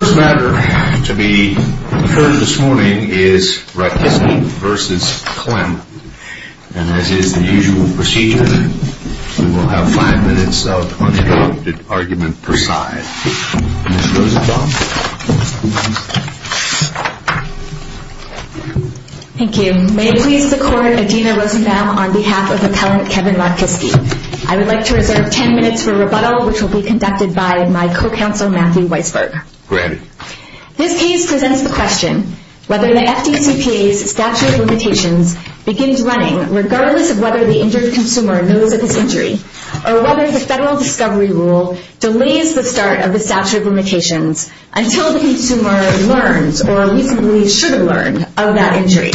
The first matter to be heard this morning is Ratkiske v. Klemm, and as is the usual procedure, we will have five minutes of uninterrupted argument per side. Ms. Rosenbaum. Thank you. May it please the Court, Adina Rosenbaum on behalf of Appellant Kevin Ratkiske. I would like to reserve ten minutes for rebuttal, which will be conducted by my co-counsel Matthew Weisberg. Mr. Weisberg. This case presents the question whether the FDCPA's statute of limitations begins running regardless of whether the injured consumer knows of his injury, or whether the federal discovery rule delays the start of the statute of limitations until the consumer learns, or reasonably should have learned, of that injury.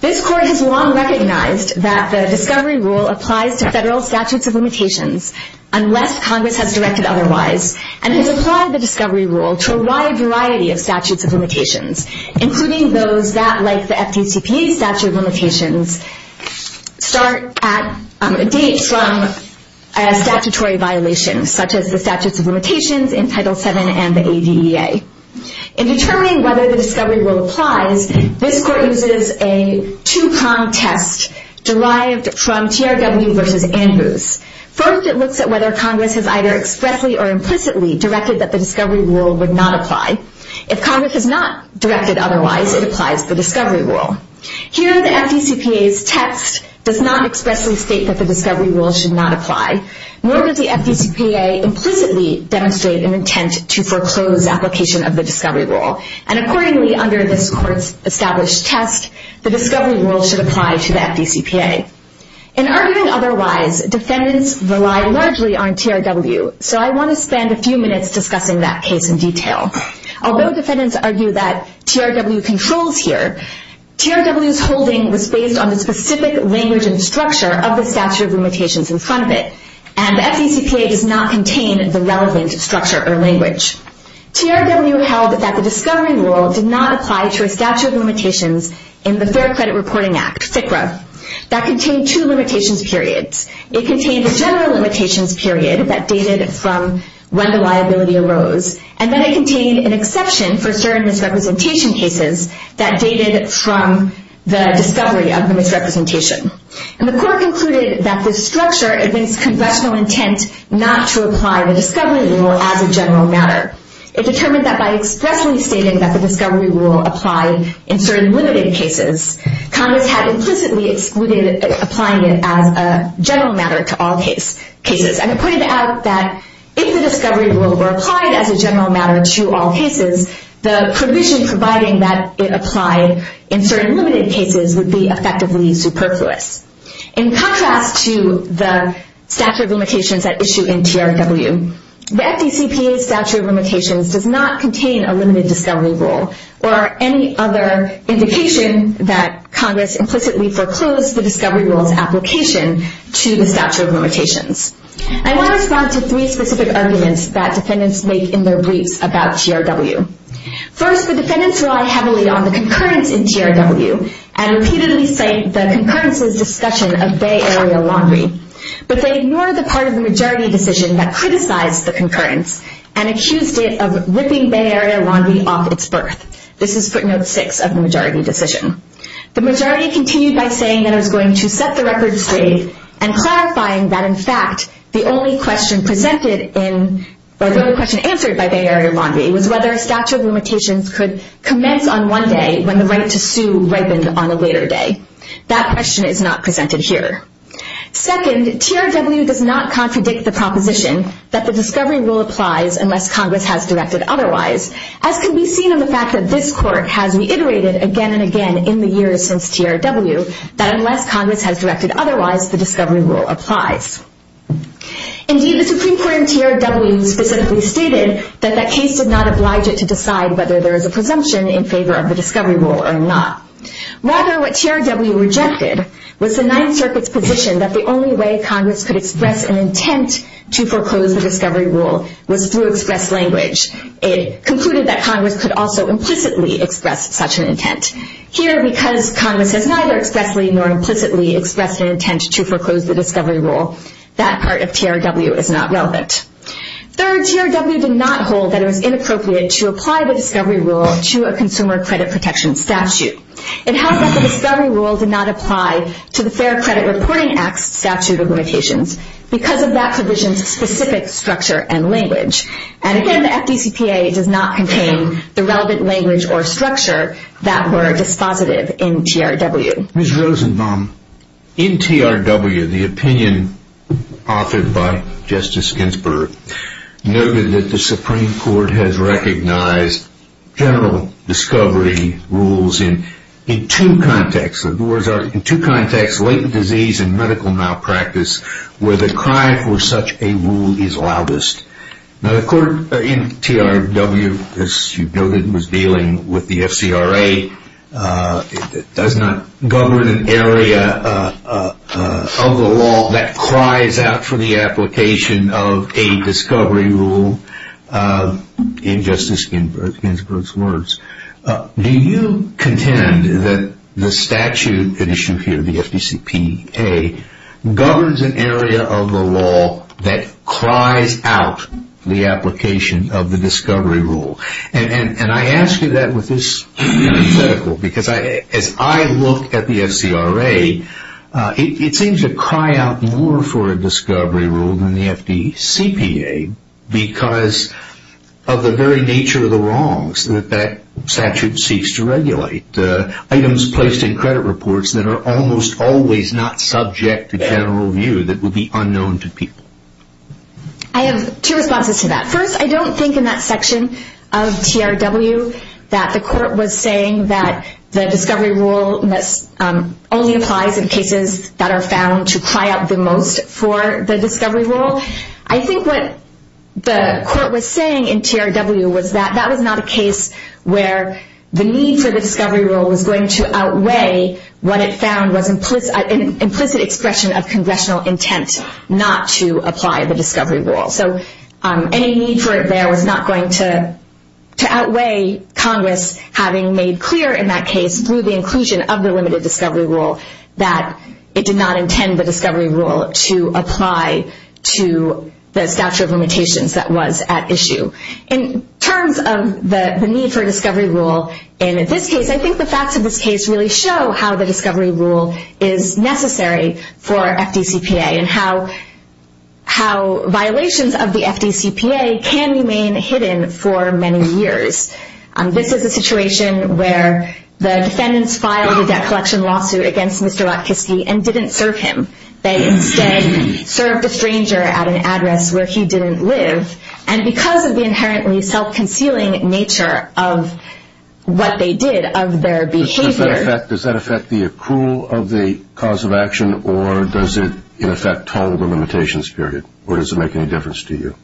This Court has long recognized that the discovery rule applies to federal statutes of limitations unless Congress has directed otherwise, and has applied the discovery rule to a wide variety of statutes of limitations, including those that, like the FDCPA's statute of limitations, start at a date from a statutory violation, such as the statutes of limitations in Title VII and the ADEA. In determining whether the discovery rule applies, this Court uses a two-pronged test derived from TRW v. Andrews. First, it looks at whether Congress has either expressly or implicitly directed that the discovery rule would not apply. If Congress has not directed otherwise, it applies the discovery rule. Here, the FDCPA's text does not expressly state that the discovery rule should not apply, nor does the FDCPA implicitly demonstrate an intent to foreclose application of the discovery rule. And accordingly, under this Court's established test, the discovery rule should apply to the FDCPA. In arguing otherwise, defendants rely largely on TRW, so I want to spend a few minutes discussing that case in detail. Although defendants argue that TRW controls here, TRW's holding was based on the specific language and structure of the statute of limitations in front of it, and the FDCPA does not contain the relevant structure or language. TRW held that the discovery rule did not apply to a statute of limitations in the Fair Credit Reporting Act, FCRA, that contained two limitations periods. It contained a general limitations period that dated from when the liability arose, and then it contained an exception for certain misrepresentation cases that dated from the discovery of the misrepresentation. And the Court concluded that this structure evinced congressional intent not to apply the discovery rule as a general matter. It determined that by expressly stating that the discovery rule applied in certain limited cases, Congress had implicitly excluded applying it as a general matter to all cases. And it pointed out that if the discovery rule were applied as a general matter to all cases, the provision providing that it applied in certain limited cases would be effectively superfluous. In contrast to the statute of limitations at issue in TRW, the FDCPA's statute of limitations does not contain a limited discovery rule or any other indication that Congress implicitly foreclosed the discovery rule's application to the statute of limitations. I want to respond to three specific arguments that defendants make in their briefs about TRW. First, the defendants rely heavily on the concurrence in TRW and repeatedly cite the concurrence's discussion of Bay Area Laundry, but they ignore the part of the majority decision that criticized the concurrence and accused it of ripping Bay Area Laundry off its berth. This is footnote 6 of the majority decision. The majority continued by saying that it was going to set the record straight and clarifying that in fact the only question answered by Bay Area Laundry was whether a statute of limitations could commence on one day when the right to sue ripened on a later day. That question is not presented here. Second, TRW does not contradict the proposition that the discovery rule applies unless Congress has directed otherwise, as can be seen in the fact that this court has reiterated again and again in the years since TRW that unless Congress has directed otherwise, the discovery rule applies. Indeed, the Supreme Court in TRW specifically stated that that case did not oblige it to decide whether there is a presumption in favor of the discovery rule or not. Rather, what TRW rejected was the Ninth Circuit's position that the only way Congress could express an intent to foreclose the discovery rule was through express language. It concluded that Congress could also implicitly express such an intent. Here, because Congress has neither expressly nor implicitly expressed an intent to foreclose the discovery rule, that part of TRW is not relevant. Third, TRW did not hold that it was inappropriate to apply the discovery rule to a consumer credit protection statute. It held that the discovery rule did not apply to the Fair Credit Reporting Act's statute of limitations because of that provision's specific structure and language. And again, the FDCPA does not contain the relevant language or structure that were dispositive in TRW. Ms. Rosenbaum, in TRW, the opinion offered by Justice Ginsburg noted that the Supreme Court has recognized general discovery rules in two contexts, latent disease and medical malpractice, where the cry for such a rule is loudest. Now, the court in TRW, as you noted, was dealing with the FCRA. It does not govern an area of the law that cries out for the application of a discovery rule. In Justice Ginsburg's words, do you contend that the statute at issue here, the FDCPA, governs an area of the law that cries out the application of the discovery rule? And I ask you that with this hypothetical because as I look at the FCRA, it seems to cry out more for a discovery rule than the FDCPA because of the very nature of the wrongs that that statute seeks to regulate, items placed in credit reports that are almost always not subject to general view that would be unknown to people. I have two responses to that. First, I don't think in that section of TRW that the court was saying that the discovery rule only applies in cases that are found to cry out the most for the discovery rule. I think what the court was saying in TRW was that that was not a case where the need for the discovery rule was going to outweigh what it found was an implicit expression of congressional intent not to apply the discovery rule. So any need for it there was not going to outweigh Congress having made clear in that case through the inclusion of the limited discovery rule that it did not intend the discovery rule to apply to the statute of limitations that was at issue. In terms of the need for discovery rule in this case, I think the facts of this case really show how the discovery rule is necessary for FDCPA and how violations of the FDCPA can remain hidden for many years. This is a situation where the defendants filed a debt collection lawsuit against Mr. Watkiski and didn't serve him. They instead served a stranger at an address where he didn't live. And because of the inherently self-concealing nature of what they did, of their behavior Does that affect the accrual of the cause of action or does it in effect toll the limitations period? Or does it make any difference to you?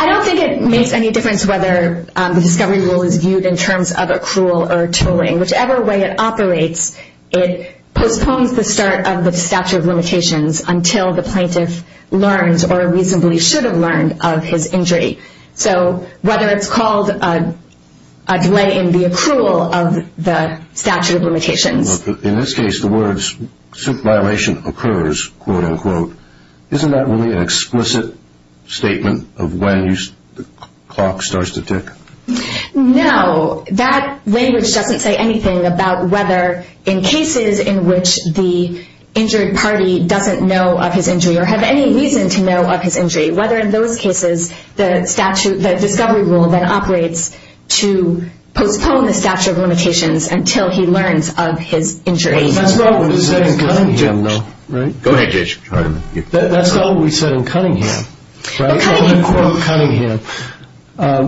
I don't think it makes any difference whether the discovery rule is viewed in terms of accrual or tolling. Whichever way it operates, it postpones the start of the statute of limitations until the plaintiff learns or reasonably should have learned of his injury. So whether it's called a delay in the accrual of the statute of limitations. In this case, the words, if violation occurs, isn't that really an explicit statement of when the clock starts to tick? No, that language doesn't say anything about whether in cases in which the injured party doesn't know of his injury or have any reason to know of his injury. Whether in those cases the discovery rule then operates to postpone the statute of limitations until he learns of his injury. That's not what we said in Cunningham. Go ahead, Judge. That's not what we said in Cunningham. I'm going to quote Cunningham.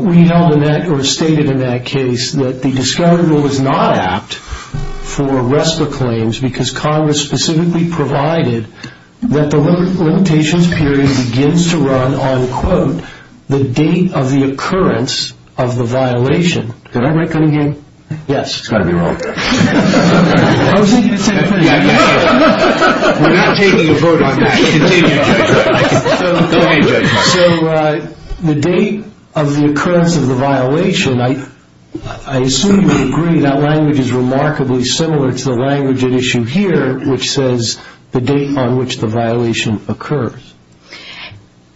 We know in that, or stated in that case, that the discovery rule is not apt for RESPA claims because Congress specifically provided that the limitations period begins to run on, quote, the date of the occurrence of the violation. Did I write Cunningham? Yes. It's got to be wrong. I was thinking it said Cunningham. We're not taking a vote on that. Continue, Judge. So the date of the occurrence of the violation, I assume you agree that language is remarkably similar to the language at issue here, which says the date on which the violation occurs.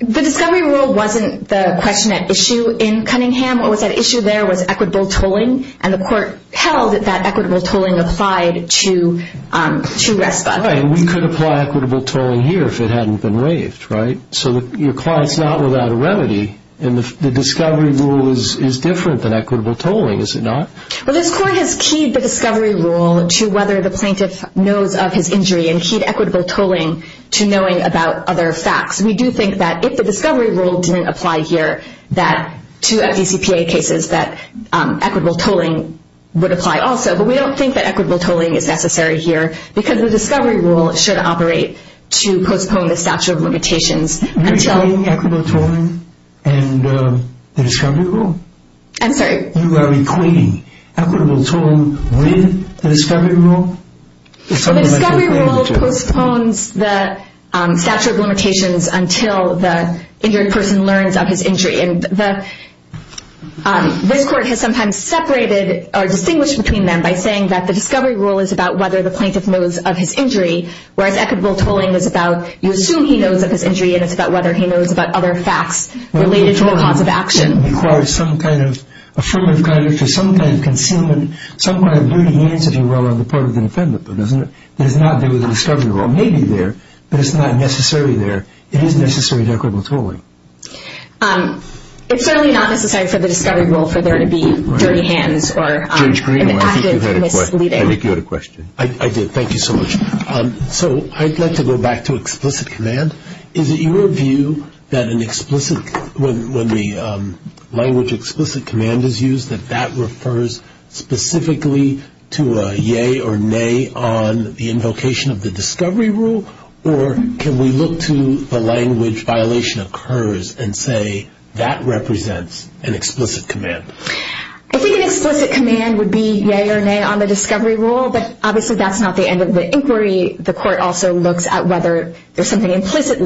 The discovery rule wasn't the question at issue in Cunningham. What was at issue there was equitable tolling, and the court held that that equitable tolling applied to RESPA. Right, and we could apply equitable tolling here if it hadn't been waived, right? So your client's not without a remedy, and the discovery rule is different than equitable tolling, is it not? Well, this court has keyed the discovery rule to whether the plaintiff knows of his injury and keyed equitable tolling to knowing about other facts. We do think that if the discovery rule didn't apply here to FDCPA cases, that equitable tolling would apply also. But we don't think that equitable tolling is necessary here because the discovery rule should operate to postpone the statute of limitations until... You're equating equitable tolling and the discovery rule? I'm sorry? You are equating equitable tolling with the discovery rule? The discovery rule postpones the statute of limitations until the injured person learns of his injury. And this court has sometimes separated or distinguished between them by saying that the discovery rule is about whether the plaintiff knows of his injury, whereas equitable tolling is about you assume he knows of his injury, and it's about whether he knows about other facts related to the cause of action. It requires some kind of affirmative conduct or some kind of concealment, some kind of dirty hands, if you will, on the part of the defendant. That is not there with the discovery rule. It may be there, but it's not necessarily there. It is necessary to equitable tolling. It's certainly not necessary for the discovery rule for there to be dirty hands or... Judge Green, I think you had a question. I think you had a question. I did. Thank you so much. So I'd like to go back to explicit command. Is it your view that when the language explicit command is used, that that refers specifically to a yea or nay on the invocation of the discovery rule, or can we look to the language violation occurs and say that represents an explicit command? I think an explicit command would be yea or nay on the discovery rule, but obviously that's not the end of the inquiry. The court also looks at whether there's something implicit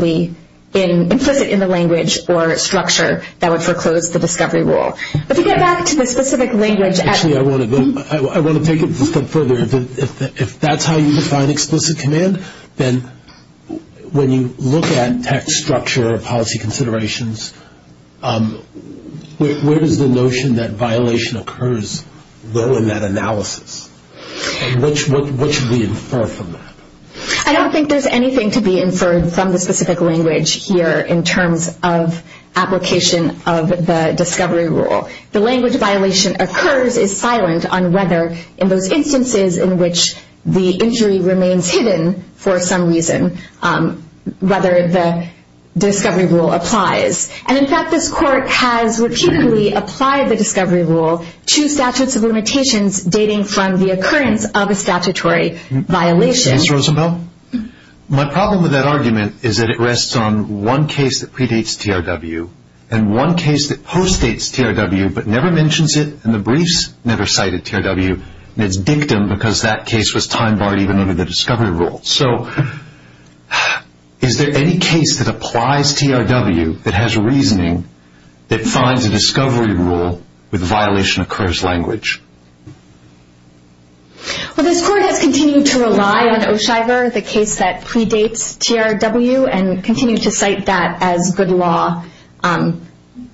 in the language or structure that would foreclose the discovery rule. But to get back to the specific language... Actually, I want to take it a step further. If that's how you define explicit command, then when you look at text structure or policy considerations, where does the notion that violation occurs go in that analysis? And what should we infer from that? I don't think there's anything to be inferred from the specific language here in terms of application of the discovery rule. The language violation occurs is silent on whether, in those instances in which the injury remains hidden for some reason, whether the discovery rule applies. And, in fact, this court has repeatedly applied the discovery rule to statutes of limitations dating from the occurrence of a statutory violation. Ms. Roosevelt? My problem with that argument is that it rests on one case that predates TRW and one case that postdates TRW but never mentions it, and the briefs never cited TRW, and it's dictum because that case was time-barred even under the discovery rule. So is there any case that applies TRW that has reasoning that finds a discovery rule with violation-occurs language? Well, this court has continued to rely on O'Shiver, the case that predates TRW, and continues to cite that as good law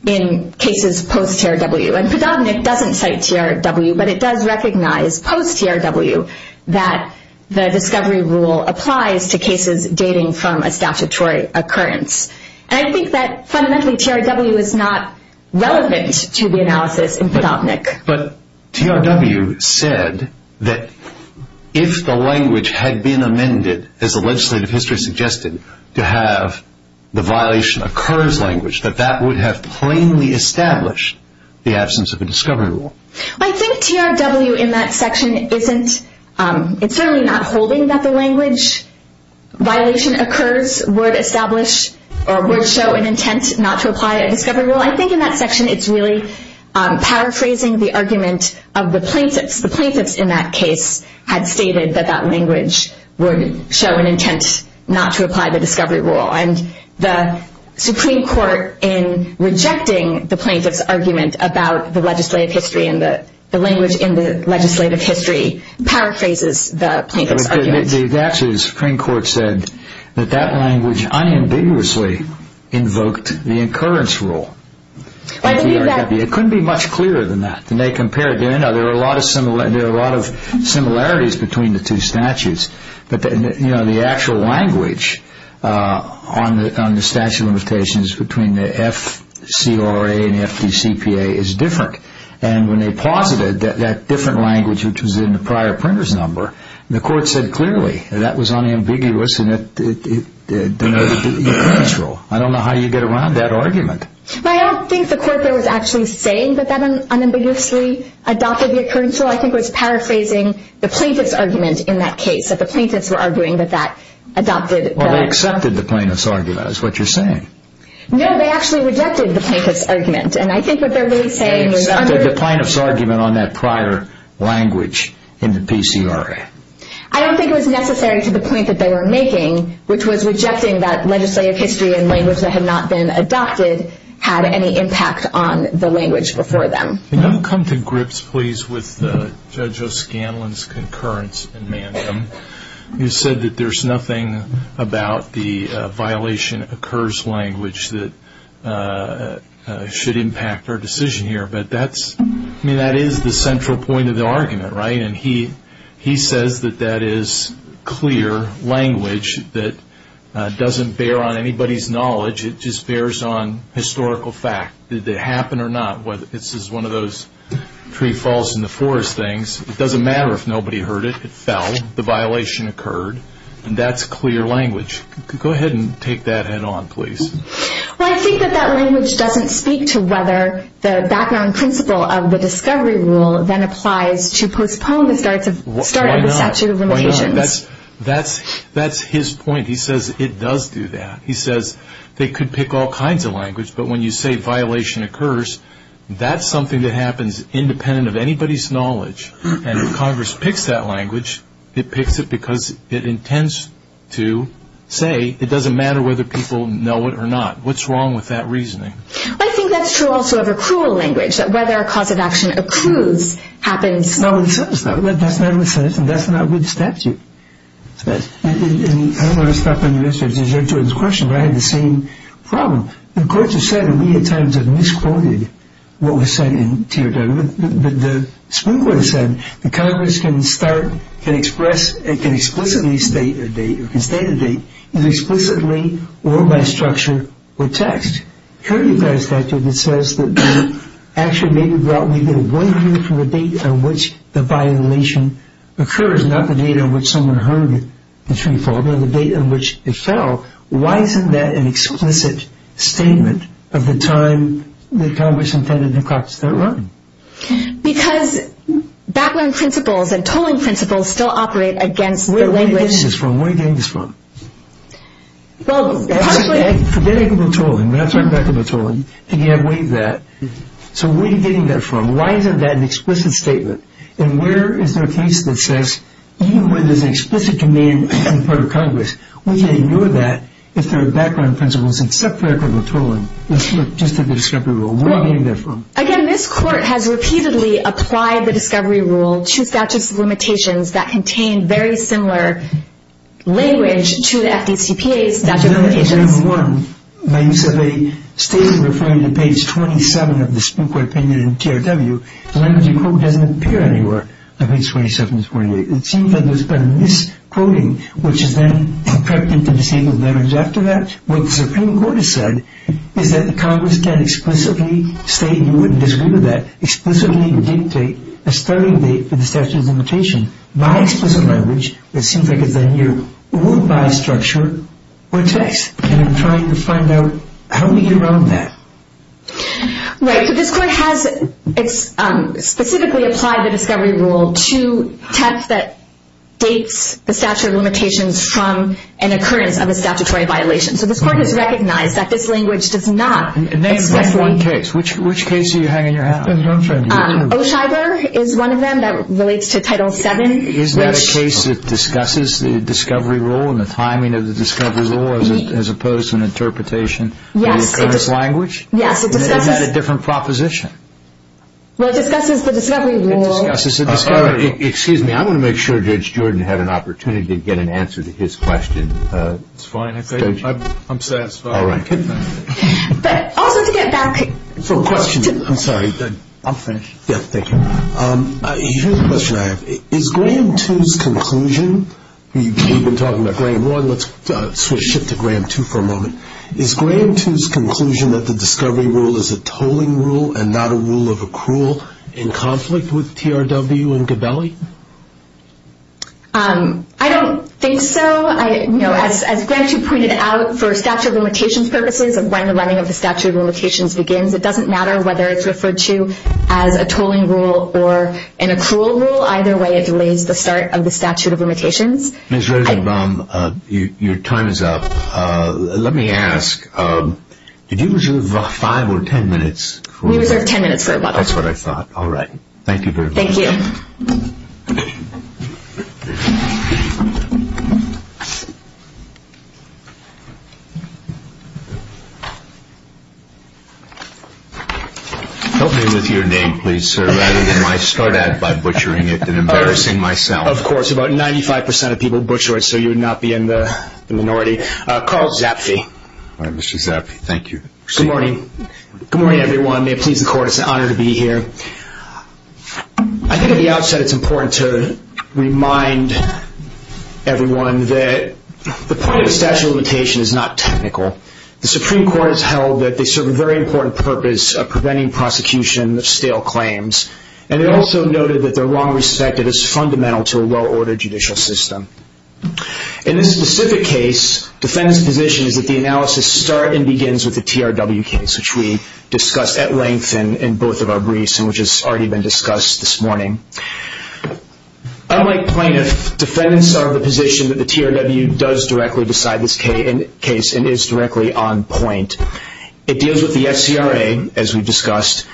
in cases post-TRW. And predominant doesn't cite TRW, but it does recognize post-TRW that the discovery rule applies to cases dating from a statutory occurrence. And I think that, fundamentally, TRW is not relevant to the analysis in Podolnik. But TRW said that if the language had been amended, as the legislative history suggested, to have the violation-occurs language, that that would have plainly established the absence of a discovery rule. I think TRW in that section isn't, it's certainly not holding that the language, violation-occurs would establish, or would show an intent not to apply a discovery rule. I think in that section it's really paraphrasing the argument of the plaintiffs. The plaintiffs in that case had stated that that language would show an intent not to apply the discovery rule. And the Supreme Court, in rejecting the plaintiffs' argument about the legislative history and the language in the legislative history, paraphrases the plaintiffs' argument. Actually, the Supreme Court said that that language unambiguously invoked the occurrence rule. It couldn't be much clearer than that. And they compared, there are a lot of similarities between the two statutes. But the actual language on the statute of limitations between the FCRA and the FDCPA is different. And when they posited that that different language, which was in the prior printer's number, the Court said clearly that that was unambiguous and that it denoted the occurrence rule. I don't know how you get around that argument. I don't think the Court there was actually saying that that unambiguously adopted the occurrence rule. I think it was paraphrasing the plaintiffs' argument in that case, that the plaintiffs were arguing that that adopted the... No, they actually rejected the plaintiffs' argument. And I think what they're really saying is... They accepted the plaintiffs' argument on that prior language in the PCRA. I don't think it was necessary to the point that they were making, which was rejecting that legislative history and language that had not been adopted had any impact on the language before them. Can you come to grips, please, with Judge O'Scanlan's concurrence in Manham? You said that there's nothing about the violation occurs language that should impact our decision here, but that is the central point of the argument, right? And he says that that is clear language that doesn't bear on anybody's knowledge. It just bears on historical fact. Did it happen or not? This is one of those tree falls in the forest things. It doesn't matter if nobody heard it. It fell. The violation occurred. And that's clear language. Go ahead and take that head-on, please. Well, I think that that language doesn't speak to whether the background principle of the discovery rule then applies to postpone the start of the statute of limitations. Why not? That's his point. He says it does do that. He says they could pick all kinds of language, but when you say violation occurs, that's something that happens independent of anybody's knowledge. And if Congress picks that language, it picks it because it intends to say it doesn't matter whether people know it or not. What's wrong with that reasoning? I think that's true also of accrual language, that whether a cause of action accrues happens... That's not what it says. That's not what it says, and that's not what the statute says. And I don't want to stop on the issue of Judge O'Scanlan's question, but I have the same problem. The courts have said, and we at times have misquoted what was said in TRW, but the Supreme Court has said that Congress can express and can explicitly state a date, or can state a date either explicitly or by structure or text. Here you've got a statute that says that the action may be brought within one year from the date on which the violation occurs, not the date on which someone heard the tree fall, but the date on which it fell. Why isn't that an explicit statement of the time that Congress intended to practice that law? Because background principles and tolling principles still operate against the language... Where are you getting this from? Where are you getting this from? Well, partially... Forget equitable tolling. We're not talking about equitable tolling. Again, waive that. So where are you getting that from? Why isn't that an explicit statement? And where is there a case that says even when there's an explicit command from the part of Congress, we can ignore that if there are background principles except for equitable tolling? Let's look just at the discovery rule. Where are you getting that from? Again, this Court has repeatedly applied the discovery rule to statutes of limitations that contain very similar language to the FDCPA's statute of limitations. By use of a statement referring to page 27 of the Supreme Court opinion in TRW, the language you quote doesn't appear anywhere on page 27 and 28. It seems that there's been a misquoting which has then crept into disabled language after that. What the Supreme Court has said is that the Congress can explicitly state you wouldn't disagree with that, explicitly dictate a starting date for the statute of limitations by explicit language, but it seems like it's done here, or by structure or text. And I'm trying to find out how we get around that. Right. So this Court has specifically applied the discovery rule to text that dates the statute of limitations from an occurrence of a statutory violation. So this Court has recognized that this language does not... Name one case. Which case are you hanging your hat on? O'Scheiber is one of them that relates to Title VII. Is that a case that discusses the discovery rule and the timing of the discovery rule as opposed to an interpretation of the current language? Yes, it discusses... Is that a different proposition? Well, it discusses the discovery rule... Excuse me. I want to make sure Judge Jordan had an opportunity to get an answer to his question. It's fine. I'm satisfied. All right. But also to get back... For a question... I'm sorry. I'm finished. Yeah, thank you. Here's a question I have. Is Gram 2's conclusion... We've been talking about Gram 1. Let's shift to Gram 2 for a moment. Is Gram 2's conclusion that the discovery rule is a tolling rule and not a rule of accrual in conflict with TRW and Gabelli? I don't think so. As Gram 2 pointed out, for statute of limitations purposes and when the running of the statute of limitations begins, it doesn't matter whether it's referred to as a tolling rule or an accrual rule. Either way, it delays the start of the statute of limitations. Ms. Rosenbaum, your time is up. Let me ask. Did you reserve five or ten minutes? We reserved ten minutes for a while. That's what I thought. All right. Thank you very much. Thank you. Help me with your name, please, sir, rather than my start-at by butchering it and embarrassing myself. Of course, about 95% of people butcher it so you would not be in the minority. Carl Zapfe. All right, Mr. Zapfe. Thank you. Good morning. Good morning, everyone. May it please the Court, it's an honor to be here. I think at the outset it's important to remind everyone that the point of statute of limitation is not technical. The Supreme Court has held that they serve a very important purpose of preventing prosecution of stale claims and they also noted that their wrong respect of it is fundamental to a well-ordered judicial system. In this specific case, the defendant's position is that the analysis starts and begins with the TRW case, which we discussed at length in both of our briefs and which has already been discussed this morning. Unlike plaintiff, defendants are of the position that the TRW does directly decide this case and is directly on point. It deals with the FCRA, as we discussed,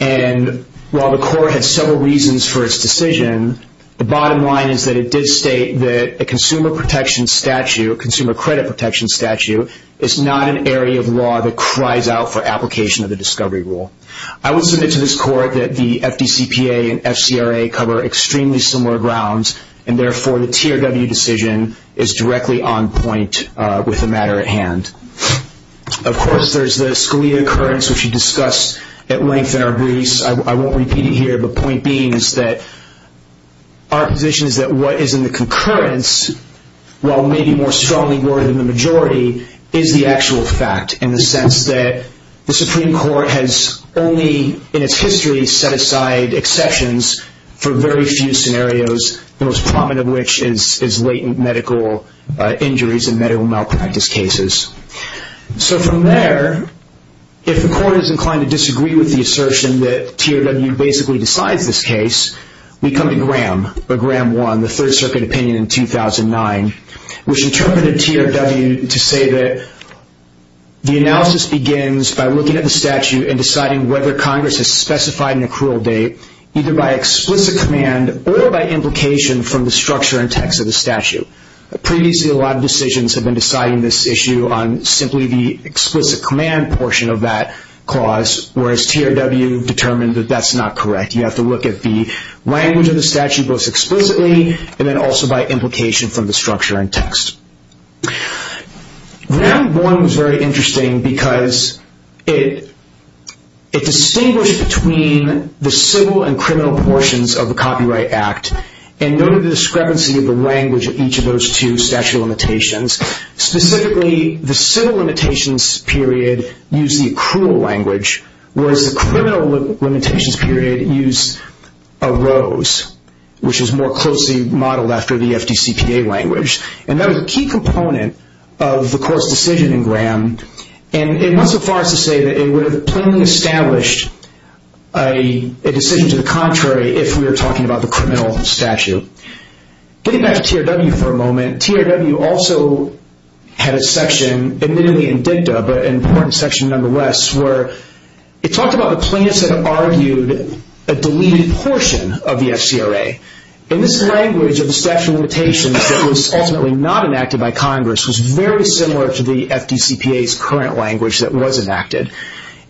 and while the Court has several reasons for its decision, the bottom line is that it did state that a consumer protection statute, a consumer credit protection statute, is not an area of law that cries out for application of the discovery rule. I would submit to this Court that the FDCPA and FCRA cover extremely similar grounds and therefore the TRW decision is directly on point with the matter at hand. Of course, there's the Scalia occurrence, which we discussed at length in our briefs. I won't repeat it here, but point being is that our position is that what is in the concurrence, while maybe more strongly worded in the majority, is the actual fact in the sense that the Supreme Court has only in its history set aside exceptions for very few scenarios, the most prominent of which is latent medical injuries and medical malpractice cases. So from there, if the Court is inclined to disagree with the assertion that TRW basically decides this case, we come to Graham, or Graham 1, the Third Circuit opinion in 2009, which interpreted TRW to say that the analysis begins by looking at the statute and deciding whether Congress has specified an accrual date either by explicit command or by implication from the structure and text of the statute. Previously, a lot of decisions have been deciding this issue on simply the explicit command portion of that clause, whereas TRW determined that that's not correct. You have to look at the language of the statute both explicitly and then also by implication from the structure and text. Graham 1 was very interesting because it distinguished between the civil and criminal portions of the Copyright Act and noted the discrepancy of the language of each of those two statute of limitations. Specifically, the civil limitations period used the accrual language, whereas the criminal limitations period used a rose, which is more closely modeled after the FDCPA language. That was a key component of the Court's decision in Graham. It went so far as to say that it would have plainly established a decision to the contrary if we were talking about the criminal statute. Getting back to TRW for a moment, TRW also had a section, admittedly in dicta, but an important section nonetheless, where it talked about the plaintiffs that argued a deleted portion of the FCRA. This language of the statute of limitations that was ultimately not enacted by Congress was very similar to the FDCPA's current language that was enacted.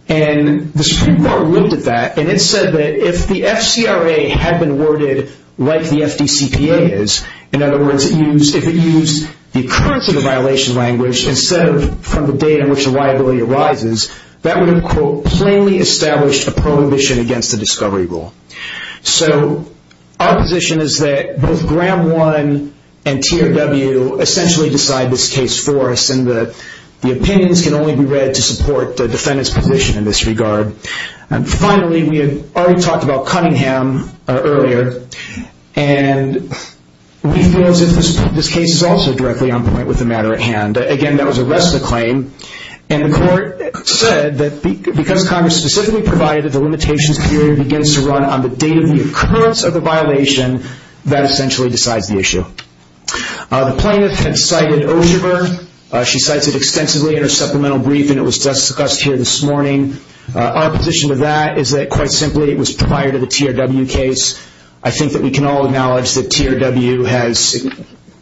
The Supreme Court looked at that and it said that if the FCRA had been worded like the FDCPA is, in other words, if it used the occurrence of the violation language instead of from the date in which the liability arises, that would have plainly established a prohibition against the discovery rule. So our position is that both Graham 1 and TRW essentially decide this case for us and the opinions can only be read to support the defendant's position in this regard. Finally, we had already talked about Cunningham earlier with the matter at hand. Again, that was a rest of the claim, and the court said that because Congress specifically provided that the limitations period begins to run on the date of the occurrence of the violation, that essentially decides the issue. The plaintiff had cited Osherberg. She cites it extensively in her supplemental brief and it was discussed here this morning. Our position to that is that, quite simply, it was prior to the TRW case. I think that we can all acknowledge that TRW has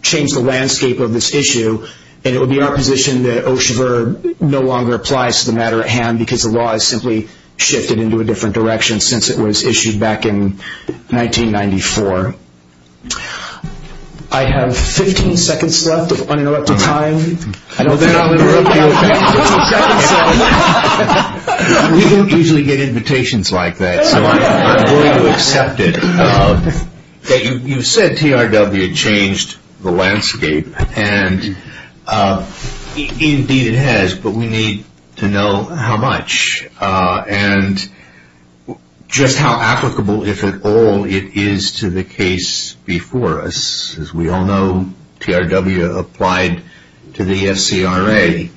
changed the landscape of this issue and it would be our position that Osherberg no longer applies to the matter at hand because the law has simply shifted into a different direction since it was issued back in 1994. I have 15 seconds left of unelected time. We don't usually get invitations like that, so I'm going to accept it. You said TRW changed the landscape and indeed it has, but we need to know how much and just how applicable, if at all, it is to the case before us. As we all know, TRW applied to the FCRA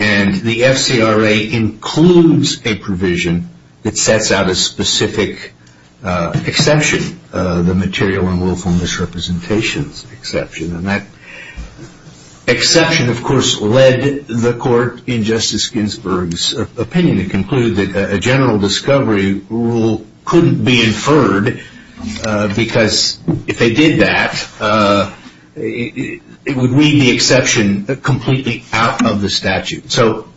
and the FCRA includes a provision that sets out a specific exception, the material and willful misrepresentations exception, and that exception, of course, led the court in Justice Ginsburg's opinion to conclude that a general discovery rule couldn't be inferred because if they did that, it would read the exception completely out of the statute. So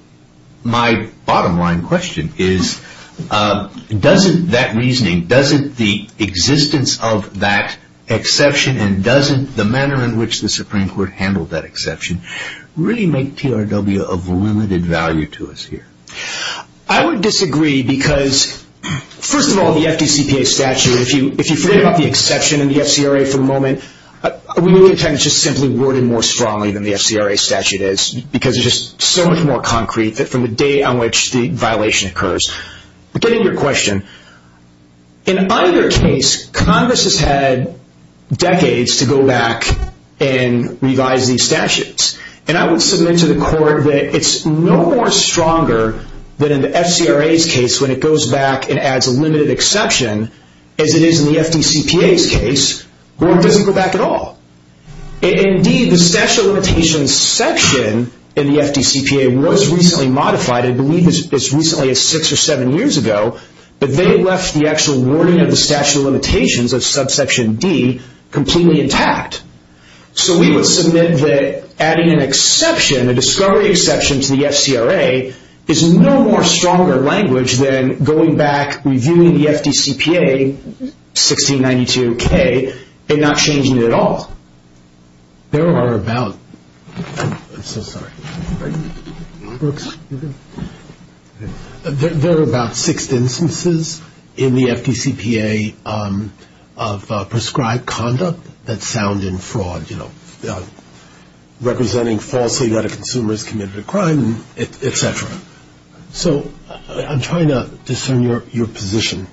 my bottom line question is, doesn't that reasoning, doesn't the existence of that exception and doesn't the manner in which the Supreme Court handled that exception really make TRW of limited value to us here? I would disagree because, first of all, the FDCPA statute, if you forget about the exception in the FCRA for the moment, we really tend to just simply word it more strongly than the FCRA statute is because it's just so much more concrete from the day on which the violation occurs. Getting to your question, in either case, Congress has had decades to go back and revise these statutes, and I would submit to the court that it's no more stronger than in the FCRA's case when it goes back and adds a limited exception as it is in the FDCPA's case where it doesn't go back at all. Indeed, the statute of limitations section in the FDCPA was recently modified, I believe as recently as 6 or 7 years ago, but they left the actual wording of the statute of limitations of subsection D completely intact. So we would submit that adding an exception, a discovery exception to the FCRA, is no more stronger language than going back, reviewing the FDCPA 1692K, and not changing it at all. There are about ‑‑ I'm so sorry. Brooks, you go. There are about six instances in the FDCPA of prescribed conduct that sound in fraud, you know, representing falsehood that a consumer has committed a crime, et cetera. So I'm trying to discern your position.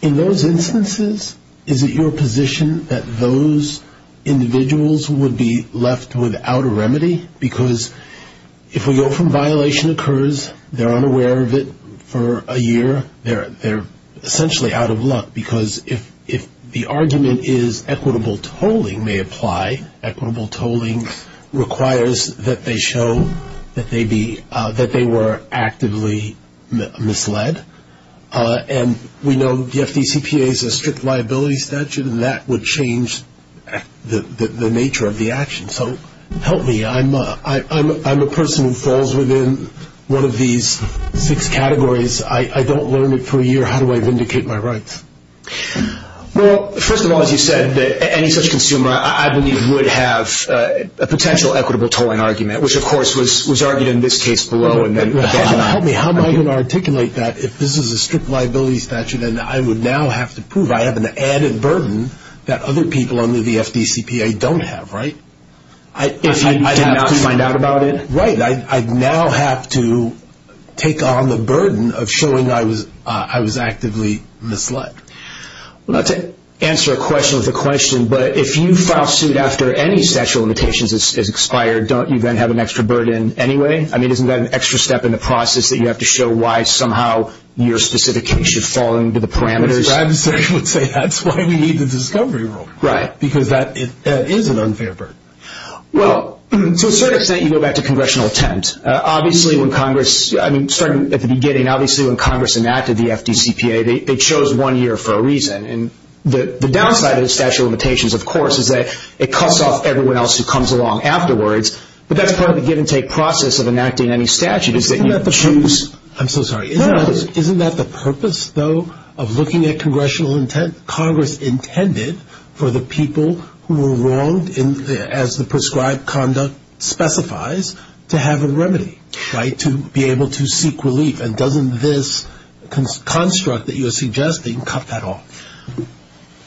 In those instances, is it your position that those individuals would be left without a remedy? Because if we go from violation occurs, they're unaware of it for a year, they're essentially out of luck because if the argument is equitable tolling may apply, equitable tolling requires that they show that they were actively misled, and we know the FDCPA is a strict liability statute, and that would change the nature of the action. So help me, I'm a person who falls within one of these six categories. I don't learn it for a year. How do I vindicate my rights? Well, first of all, as you said, any such consumer, I believe, would have a potential equitable tolling argument, which, of course, was argued in this case below. Help me. How am I going to articulate that if this is a strict liability statute and I would now have to prove I have an added burden that other people under the FDCPA don't have, right? If you did not find out about it? Right. I now have to take on the burden of showing I was actively misled. Well, not to answer a question with a question, but if you file suit after any statute of limitations is expired, don't you then have an extra burden anyway? I mean, isn't that an extra step in the process that you have to show why somehow your specification should fall into the parameters? I would say that's why we need the discovery rule. Right. Because that is an unfair burden. Well, to a certain extent, you go back to congressional attempt. Obviously, when Congress, I mean, starting at the beginning, obviously when Congress enacted the FDCPA, they chose one year for a reason. And the downside of the statute of limitations, of course, is that it cuts off everyone else who comes along afterwards, but that's part of the give-and-take process of enacting any statute, is that you choose. I'm so sorry. No. Isn't that the purpose, though, of looking at congressional intent? Congress intended for the people who were wronged as the prescribed conduct specifies to have a remedy, right, to be able to seek relief. And doesn't this construct that you're suggesting cut that off?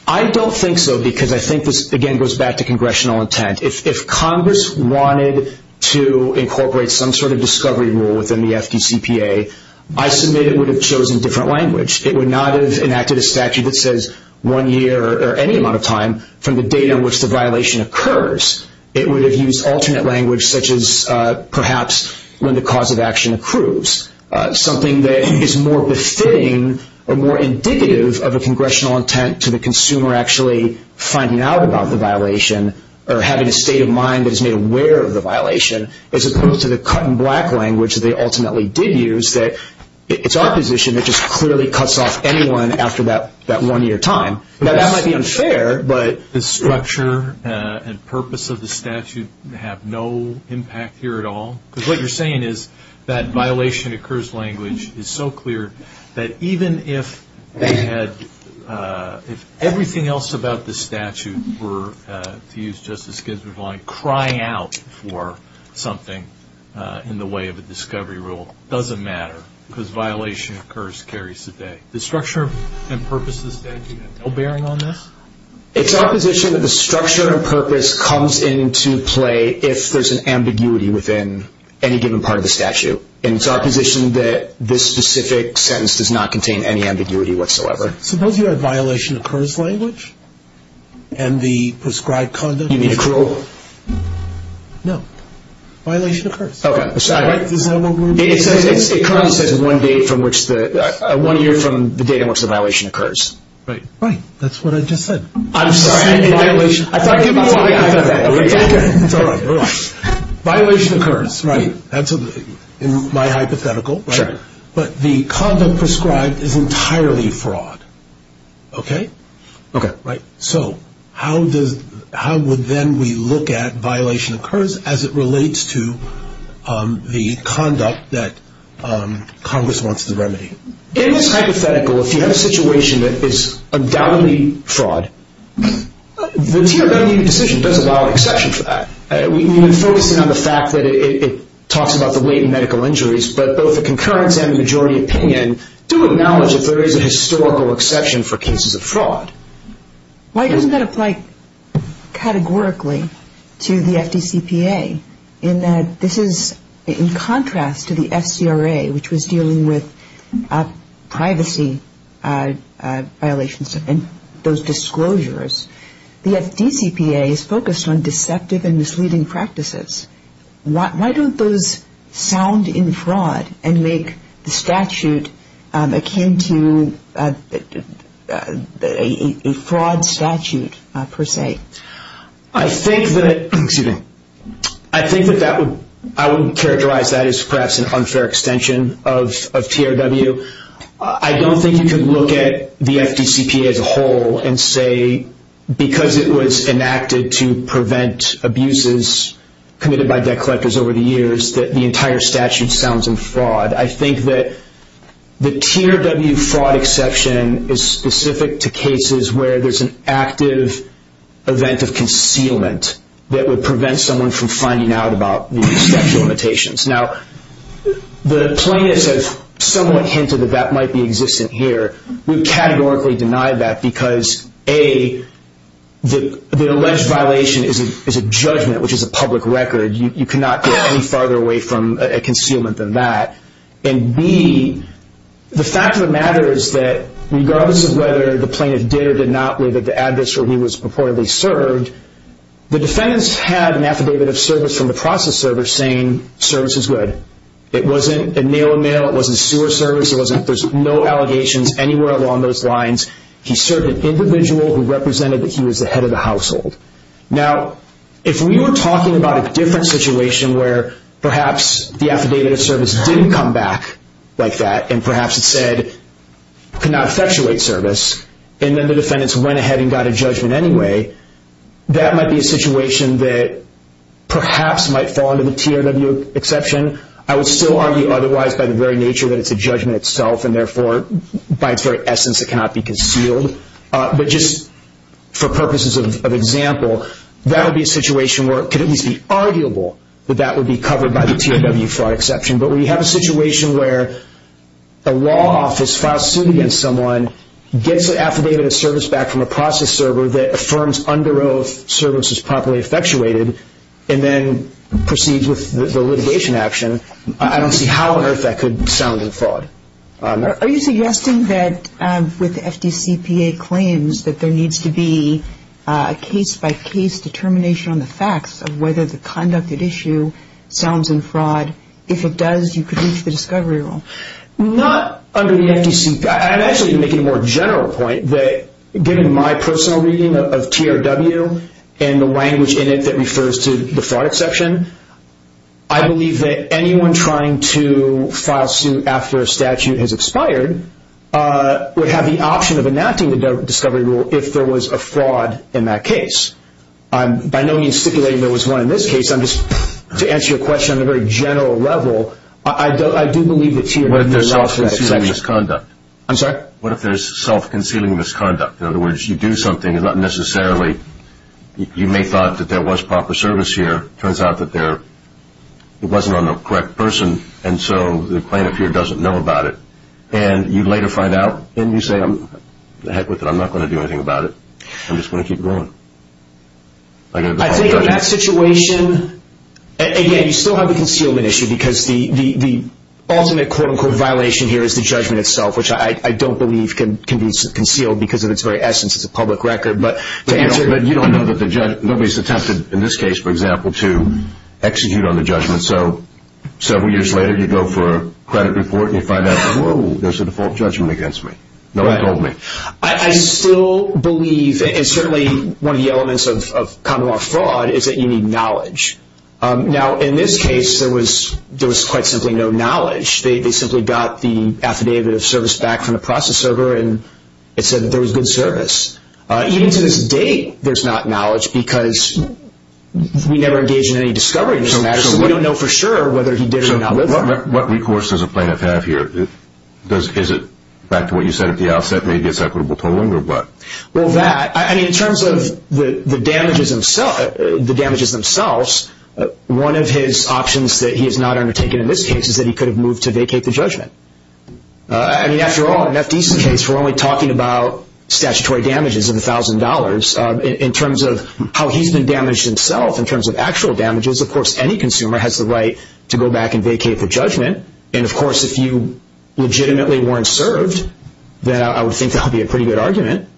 I don't think so because I think this, again, goes back to congressional intent. If Congress wanted to incorporate some sort of discovery rule within the FDCPA, I submit it would have chosen different language. It would not have enacted a statute that says one year or any amount of time from the date on which the violation occurs. It would have used alternate language, such as perhaps when the cause of action accrues, something that is more befitting or more indicative of a congressional intent to the consumer actually finding out about the violation or having a state of mind that is made aware of the violation, as opposed to the cut-and-black language that they ultimately did use, that it's our position that just clearly cuts off anyone after that one-year time. Now, that might be unfair, but... Does structure and purpose of the statute have no impact here at all? Because what you're saying is that violation-occurs language is so clear that even if everything else about the statute were, to use Justice Ginsburg's line, crying out for something in the way of a discovery rule, it doesn't matter because violation-occurs carries today. Does structure and purpose of the statute have no bearing on this? It's our position that the structure and purpose comes into play if there's an ambiguity within any given part of the statute. And it's our position that this specific sentence does not contain any ambiguity whatsoever. Suppose you had violation-occurs language and the prescribed conduct... You mean accrual? No. Violation-occurs. Okay. Is that what we're... It currently says one-year from the date on which the violation occurs. Right. Right. That's what I just said. I'm sorry. In violation... I thought you... It's all right. We're all right. Violation-occurs. Right. That's in my hypothetical. Sure. But the conduct prescribed is entirely fraud. Okay? Okay. Right. So how would then we look at violation-occurs as it relates to the conduct that Congress wants to remedy? In this hypothetical, if you have a situation that is undoubtedly fraud, the TRW decision does allow an exception for that. We've been focusing on the fact that it talks about the latent medical injuries, but both the concurrence and the majority opinion do acknowledge that there is a historical exception for cases of fraud. Why doesn't that apply categorically to the FDCPA in that this is in contrast to the FCRA, which was dealing with privacy violations and those disclosures? The FDCPA is focused on deceptive and misleading practices. Why don't those sound in fraud and make the statute akin to a fraud statute, per se? I think that that would... I would characterize that as perhaps an unfair extension of TRW. I don't think you could look at the FDCPA as a whole and say, because it was enacted to prevent abuses committed by debt collectors over the years, that the entire statute sounds in fraud. I think that the TRW fraud exception is specific to cases where there's an active event of concealment that would prevent someone from finding out about the statute of limitations. Now, the plaintiffs have somewhat hinted that that might be existent here. We categorically deny that because, A, the alleged violation is a judgment, which is a public record. You cannot get any farther away from a concealment than that. And, B, the fact of the matter is that regardless of whether the plaintiff did or did not live at the address where he was purportedly served, the defendants had an affidavit of service from the process server saying service is good. It wasn't a nail-in-the-mill, it wasn't sewer service, there's no allegations anywhere along those lines. He served an individual who represented that he was the head of the household. Now, if we were talking about a different situation where perhaps the affidavit of service didn't come back like that, and perhaps it said, could not effectuate service, and then the defendants went ahead and got a judgment anyway, that might be a situation that perhaps might fall under the TRW exception. I would still argue otherwise by the very nature that it's a judgment itself, and therefore, by its very essence, it cannot be concealed. But just for purposes of example, that would be a situation where it could at least be arguable that that would be covered by the TRW fraud exception. But when you have a situation where a law office files suit against someone, gets an affidavit of service back from a process server that affirms under oath service is properly effectuated, and then proceeds with the litigation action, I don't see how on earth that could sound in fraud. Are you suggesting that with the FDCPA claims that there needs to be a case-by-case determination on the facts of whether the conducted issue sounds in fraud? If it does, you could reach the discovery rule. Not under the FDCPA. I'm actually making a more general point that given my personal reading of TRW and the language in it that refers to the fraud exception, I believe that anyone trying to file suit after a statute has expired would have the option of enacting the discovery rule if there was a fraud in that case. By no means stipulating there was one in this case. To answer your question on a very general level, I do believe that TRW is not a fraud exception. What if there's self-concealing misconduct? I'm sorry? What if there's self-concealing misconduct? In other words, you do something, you may have thought that there was proper service here. It turns out that it wasn't on the correct person, and so the plaintiff here doesn't know about it. And you later find out, and you say, heck with it, I'm not going to do anything about it. I'm just going to keep going. I think in that situation, again, you still have the concealment issue because the ultimate quote-unquote violation here is the judgment itself, which I don't believe can be concealed because of its very essence as a public record. But you don't know that the judge, nobody's attempted in this case, for example, to execute on the judgment, so several years later you go for a credit report and you find out, whoa, there's a default judgment against me. No one told me. I still believe, and certainly one of the elements of common law fraud, is that you need knowledge. Now, in this case, there was quite simply no knowledge. They simply got the affidavit of service back from the process server, and it said that there was good service. Even to this date, there's not knowledge because we never engage in any discovery in this matter, so we don't know for sure whether he did it or not. So what recourse does a plaintiff have here? Is it back to what you said at the outset, maybe it's equitable tolling or what? Well, that, I mean, in terms of the damages themselves, one of his options that he has not undertaken in this case is that he could have moved to vacate the judgment. I mean, after all, an FDC case, we're only talking about statutory damages of $1,000. In terms of how he's been damaged himself, in terms of actual damages, of course any consumer has the right to go back and vacate the judgment. And, of course, if you legitimately weren't served, then I would think that would be a pretty good argument.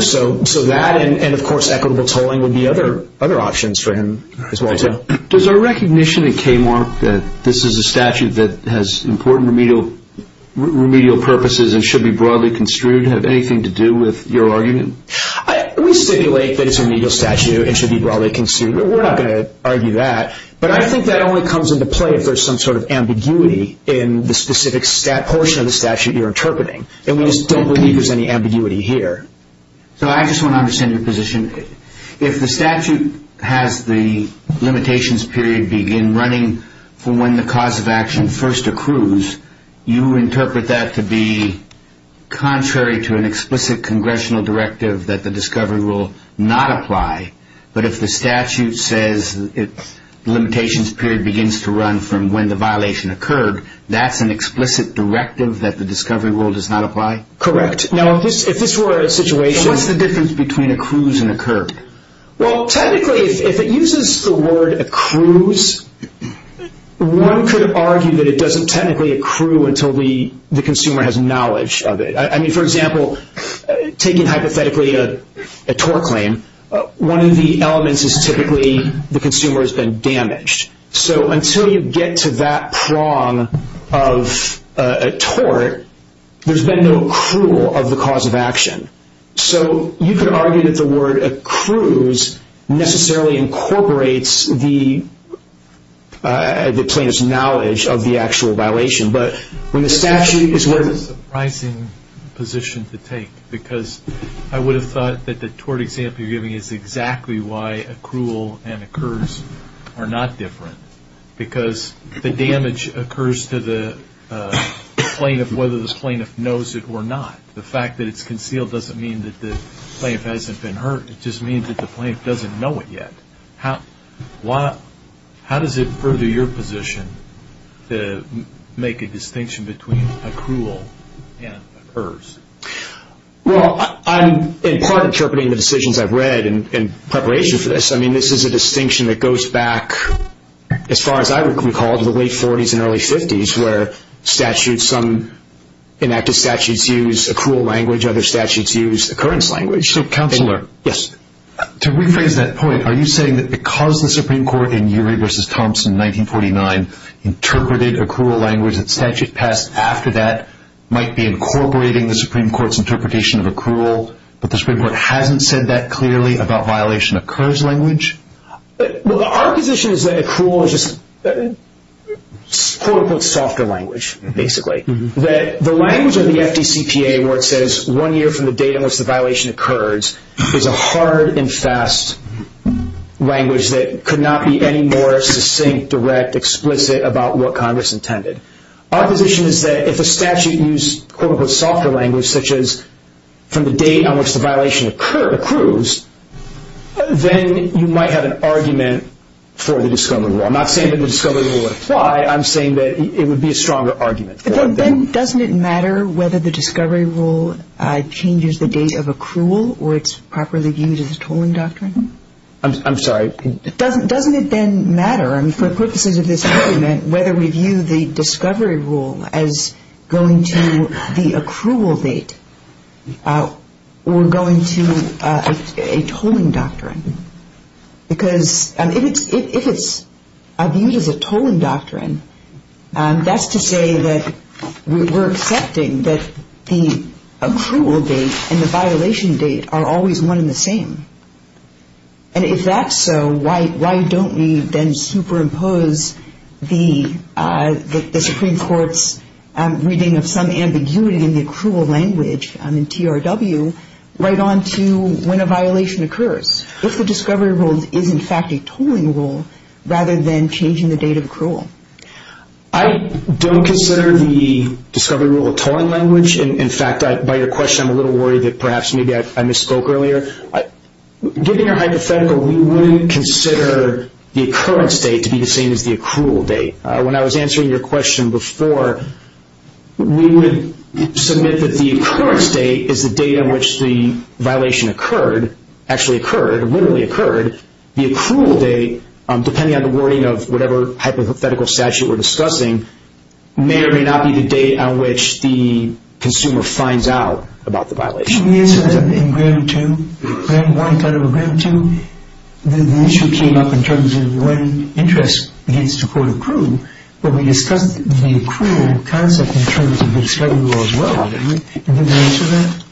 So that and, of course, equitable tolling would be other options for him as well, too. Does our recognition at KMARC that this is a statute that has important remedial purposes and should be broadly construed have anything to do with your argument? We stipulate that it's a remedial statute and should be broadly construed, but we're not going to argue that. But I think that only comes into play if there's some sort of ambiguity in the specific portion of the statute you're interpreting, and we just don't believe there's any ambiguity here. So I just want to understand your position. If the statute has the limitations period begin running for when the cause of action first accrues, you interpret that to be contrary to an explicit congressional directive that the discovery rule not apply, but if the statute says the limitations period begins to run from when the violation occurred, that's an explicit directive that the discovery rule does not apply? Correct. Now, if this were a situation... What's the difference between accrues and occurred? Well, technically, if it uses the word accrues, one could argue that it doesn't technically accrue until the consumer has knowledge of it. I mean, for example, taking hypothetically a tort claim, one of the elements is typically the consumer has been damaged. So until you get to that prong of a tort, there's been no accrual of the cause of action. So you could argue that the word accrues necessarily incorporates the plaintiff's knowledge of the actual violation, but when the statute is working... That's a surprising position to take because I would have thought that the tort example you're giving is exactly why accrual and occurs are not different because the damage occurs to the plaintiff, whether this plaintiff knows it or not. The fact that it's concealed doesn't mean that the plaintiff hasn't been hurt. It just means that the plaintiff doesn't know it yet. How does it further your position to make a distinction between accrual and occurs? Well, I'm in part interpreting the decisions I've read in preparation for this. I mean, this is a distinction that goes back, as far as I recall, to the late 40s and early 50s, where some enacted statutes use accrual language, other statutes use occurrence language. So, Counselor. Yes. To rephrase that point, are you saying that because the Supreme Court in Urey v. Thompson, 1949, interpreted accrual language, that statute passed after that might be incorporating the Supreme Court's interpretation of accrual, but the Supreme Court hasn't said that clearly about violation-occurs language? Well, our position is that accrual is just, quote-unquote, softer language, basically. That the language of the FDCPA, where it says one year from the date on which the violation occurs, is a hard and fast language that could not be any more succinct, direct, explicit about what Congress intended. Our position is that if a statute used, quote-unquote, softer language, such as from the date on which the violation occurs, then you might have an argument for the discovery rule. I'm not saying that the discovery rule would apply. I'm saying that it would be a stronger argument. Then doesn't it matter whether the discovery rule changes the date of accrual or it's properly viewed as a tolling doctrine? I'm sorry? Doesn't it then matter, for purposes of this argument, whether we view the discovery rule as going to the accrual date or going to a tolling doctrine? Because if it's viewed as a tolling doctrine, that's to say that we're accepting that the accrual date and the violation date are always one and the same. And if that's so, why don't we then superimpose the Supreme Court's reading of some ambiguity in the accrual language in TRW right on to when a violation occurs, if the discovery rule is in fact a tolling rule, rather than changing the date of accrual? I don't consider the discovery rule a tolling language. In fact, by your question, I'm a little worried that perhaps maybe I misspoke earlier. Given your hypothetical, we wouldn't consider the occurrence date to be the same as the accrual date. When I was answering your question before, we would submit that the occurrence date is the date on which the violation occurred, actually occurred, literally occurred. The accrual date, depending on the wording of whatever hypothetical statute we're discussing, may or may not be the date on which the consumer finds out about the violation. Didn't we answer that in Gram 2? When Warren thought about Gram 2, the issue came up in terms of when interest begins to quote accrue, but we discussed the accrual concept in terms of the discovery rule as well. Didn't we answer that?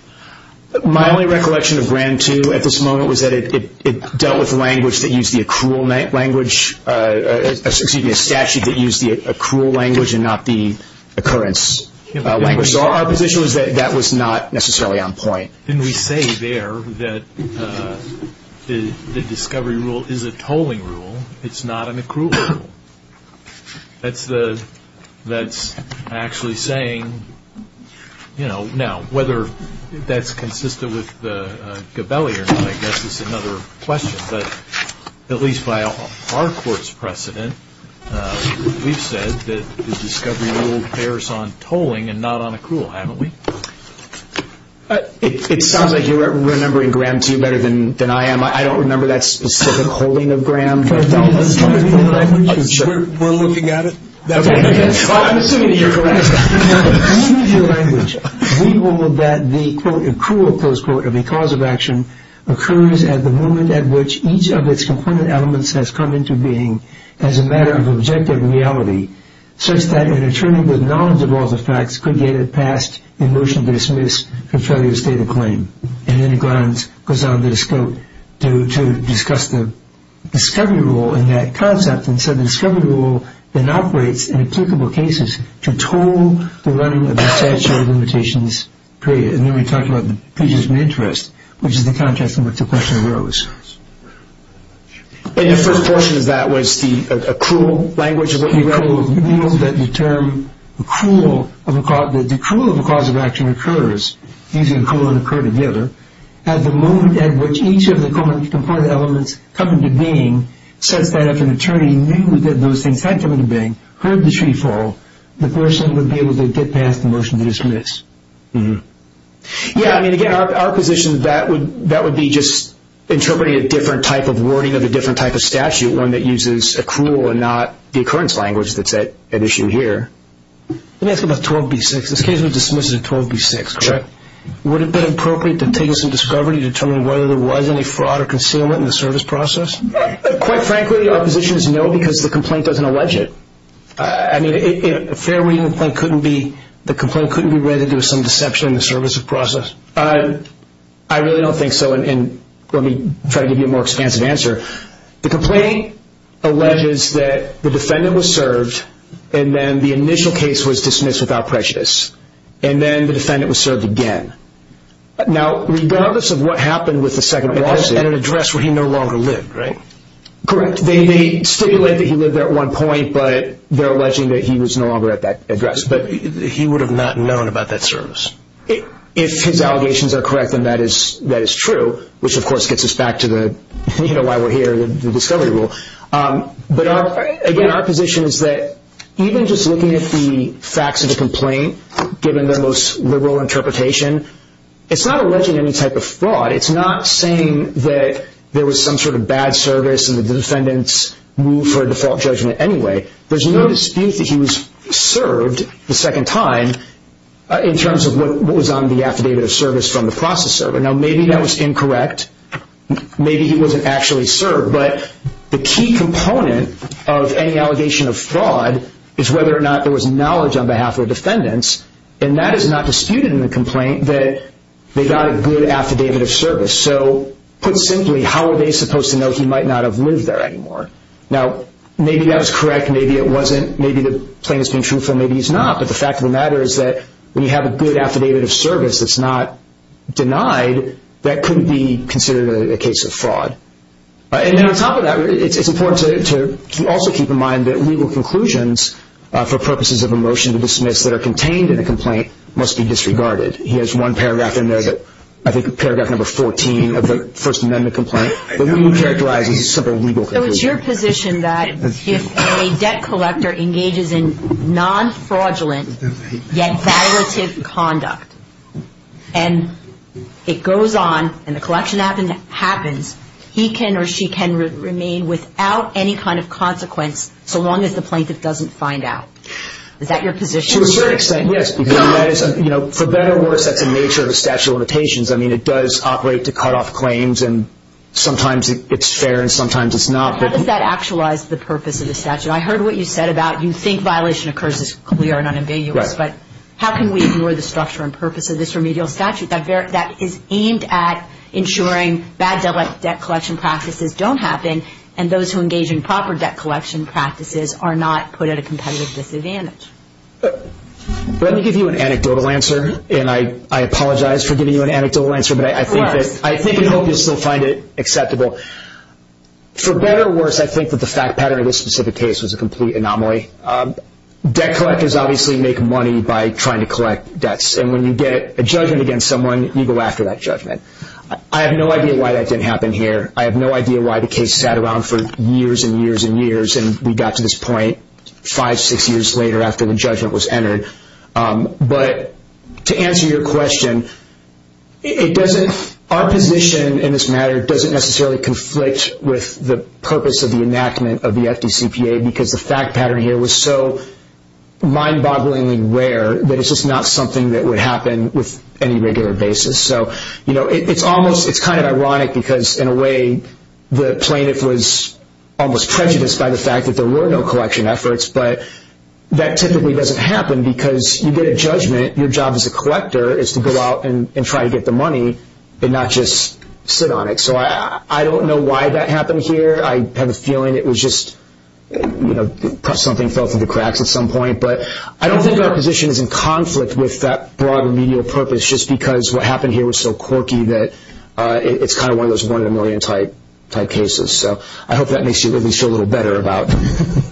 My only recollection of Gram 2 at this moment was that it dealt with language that used the accrual language, excuse me, a statute that used the accrual language and not the occurrence language. So our position was that that was not necessarily on point. Didn't we say there that the discovery rule is a tolling rule? It's not an accrual rule. That's actually saying, you know, now whether that's consistent with the Gabelli or not, I guess, is another question. But at least by our court's precedent, we've said that the discovery rule bears on tolling and not on accrual, haven't we? It sounds like you're remembering Gram 2 better than I am. I don't remember that specific holding of Gram 2. We're looking at it. I'm assuming you're correct. We ruled that the accrual, close quote, of a cause of action occurs at the moment at which each of its component elements has come into being as a matter of objective reality such that an attorney with knowledge of all the facts could get it passed in motion to dismiss for failure to state a claim. And then Glantz goes on to discuss the discovery rule in that concept and said the discovery rule then operates in applicable cases to toll the running of the statute of limitations created. And then we talked about the prejudice of interest, which is the context in which the question arose. And your first portion of that was the accrual language of what you wrote? We ruled that the accrual of a cause of action occurs at the moment at which each of the component elements come into being such that if an attorney knew that those things had come into being, heard the tree fall, the person would be able to get past the motion to dismiss. Yeah, I mean, again, our position, that would be just interpreting a different type of wording of a different type of statute, one that uses accrual and not the occurrence language that's at issue here. Let me ask you about 12b-6. This case was dismissed in 12b-6, correct? Sure. Would it have been appropriate to take some discovery to determine whether there was any fraud or concealment in the service process? Quite frankly, our position is no because the complaint doesn't allege it. I mean, a fair reading of the complaint couldn't be read as some deception in the service process. I really don't think so, and let me try to give you a more expansive answer. The complaint alleges that the defendant was served, and then the initial case was dismissed without prejudice, and then the defendant was served again. Now, regardless of what happened with the second lawsuit At an address where he no longer lived, right? Correct. They stipulate that he lived there at one point, but they're alleging that he was no longer at that address. He would have not known about that service. If his allegations are correct, then that is true, which of course gets us back to why we're here, the discovery rule. But again, our position is that even just looking at the facts of the complaint, given their most liberal interpretation, it's not alleging any type of fraud. It's not saying that there was some sort of bad service and the defendants moved for a default judgment anyway. There's no dispute that he was served the second time in terms of what was on the affidavit of service from the process server. Now, maybe that was incorrect. Maybe he wasn't actually served. But the key component of any allegation of fraud is whether or not there was knowledge on behalf of the defendants, and that is not disputed in the complaint that they got a good affidavit of service. So, put simply, how are they supposed to know he might not have lived there anymore? Now, maybe that was correct. Maybe it wasn't. Maybe the plaintiff's being truthful. Maybe he's not. But the fact of the matter is that when you have a good affidavit of service that's not denied, that couldn't be considered a case of fraud. And then on top of that, it's important to also keep in mind that legal conclusions for purposes of a motion to dismiss that are contained in a complaint must be disregarded. He has one paragraph in there, I think paragraph number 14 of the First Amendment complaint, but we characterize these as simple legal conclusions. So, it's your position that if a debt collector engages in non-fraudulent, yet validative conduct, and it goes on and the collection happens, he can or she can remain without any kind of consequence so long as the plaintiff doesn't find out. Is that your position? To a certain extent, yes. For better or worse, that's the nature of a statute of limitations. I mean, it does operate to cut off claims, and sometimes it's fair and sometimes it's not. How does that actualize the purpose of the statute? I heard what you said about you think violation occurs as clear and unambiguous, but how can we ignore the structure and purpose of this remedial statute that is aimed at ensuring bad debt collection practices don't happen and those who engage in proper debt collection practices are not put at a competitive disadvantage? Let me give you an anecdotal answer, and I apologize for giving you an anecdotal answer, but I think and hope you'll still find it acceptable. For better or worse, I think that the fact pattern of this specific case was a complete anomaly. Debt collectors obviously make money by trying to collect debts, and when you get a judgment against someone, you go after that judgment. I have no idea why that didn't happen here. I have no idea why the case sat around for years and years and years, and we got to this point five, six years later after the judgment was entered. But to answer your question, our position in this matter doesn't necessarily conflict with the purpose of the enactment of the FDCPA because the fact pattern here was so mind-bogglingly rare that it's just not something that would happen with any regular basis. It's kind of ironic because in a way the plaintiff was almost prejudiced by the fact that there were no collection efforts, but that typically doesn't happen because you get a judgment. Your job as a collector is to go out and try to get the money and not just sit on it. So I don't know why that happened here. I have a feeling it was just something fell through the cracks at some point, but I don't think our position is in conflict with that broad remedial purpose just because what happened here was so quirky that it's kind of one of those one-in-a-million type cases. So I hope that makes you at least feel a little better about it.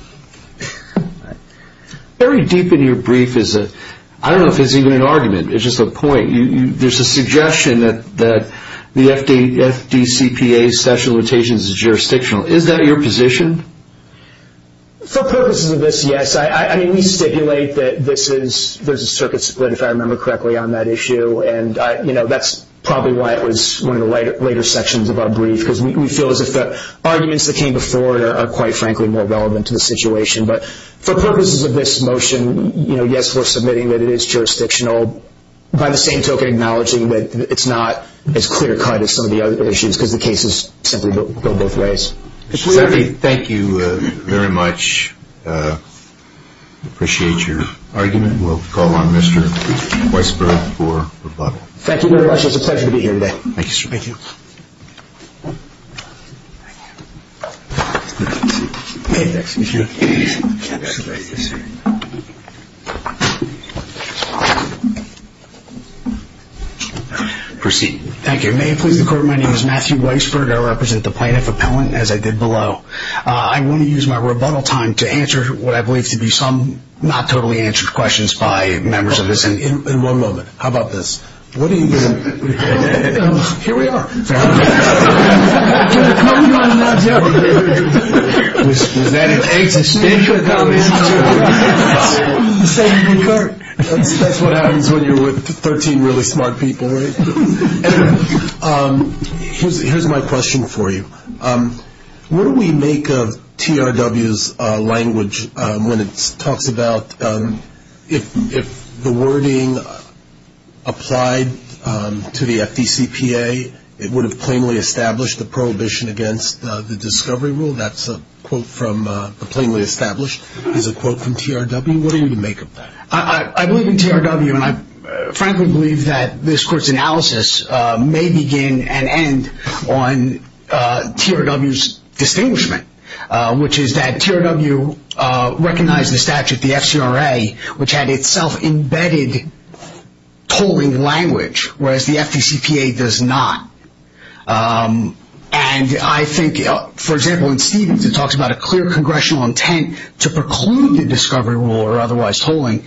Very deep in your brief is a – I don't know if it's even an argument. It's just a point. There's a suggestion that the FDCPA's statute of limitations is jurisdictional. Is that your position? For purposes of this, yes. We stipulate that there's a circuit split, if I remember correctly, on that issue, and that's probably why it was one of the later sections of our brief because we feel as if the arguments that came before it are, quite frankly, more relevant to the situation. But for purposes of this motion, yes, we're submitting that it is jurisdictional, by the same token acknowledging that it's not as clear-cut as some of the other issues because the cases simply go both ways. Senator, thank you very much. Appreciate your argument. We'll call on Mr. Weisberg for rebuttal. Thank you very much. It's a pleasure to be here today. Thank you, sir. Thank you. Proceed. Thank you. If I may please the court, my name is Matthew Weisberg. I represent the plaintiff appellant, as I did below. I want to use my rebuttal time to answer what I believe to be some not totally answered questions by members of this. In one moment. How about this? What do you think? Here we are. Was that an anxious speech? That's what happens when you're with 13 really smart people. Anyway, here's my question for you. What do we make of TRW's language when it talks about if the wording applied to the FDCPA, it would have plainly established the prohibition against the discovery rule? That's a quote from plainly established is a quote from TRW. What do you make of that? I believe in TRW, and I frankly believe that this court's analysis may begin and end on TRW's distinguishment, which is that TRW recognized the statute, the FCRA, which had itself embedded tolling language, whereas the FDCPA does not. And I think, for example, in Stevens it talks about a clear congressional intent to preclude the discovery rule or otherwise tolling.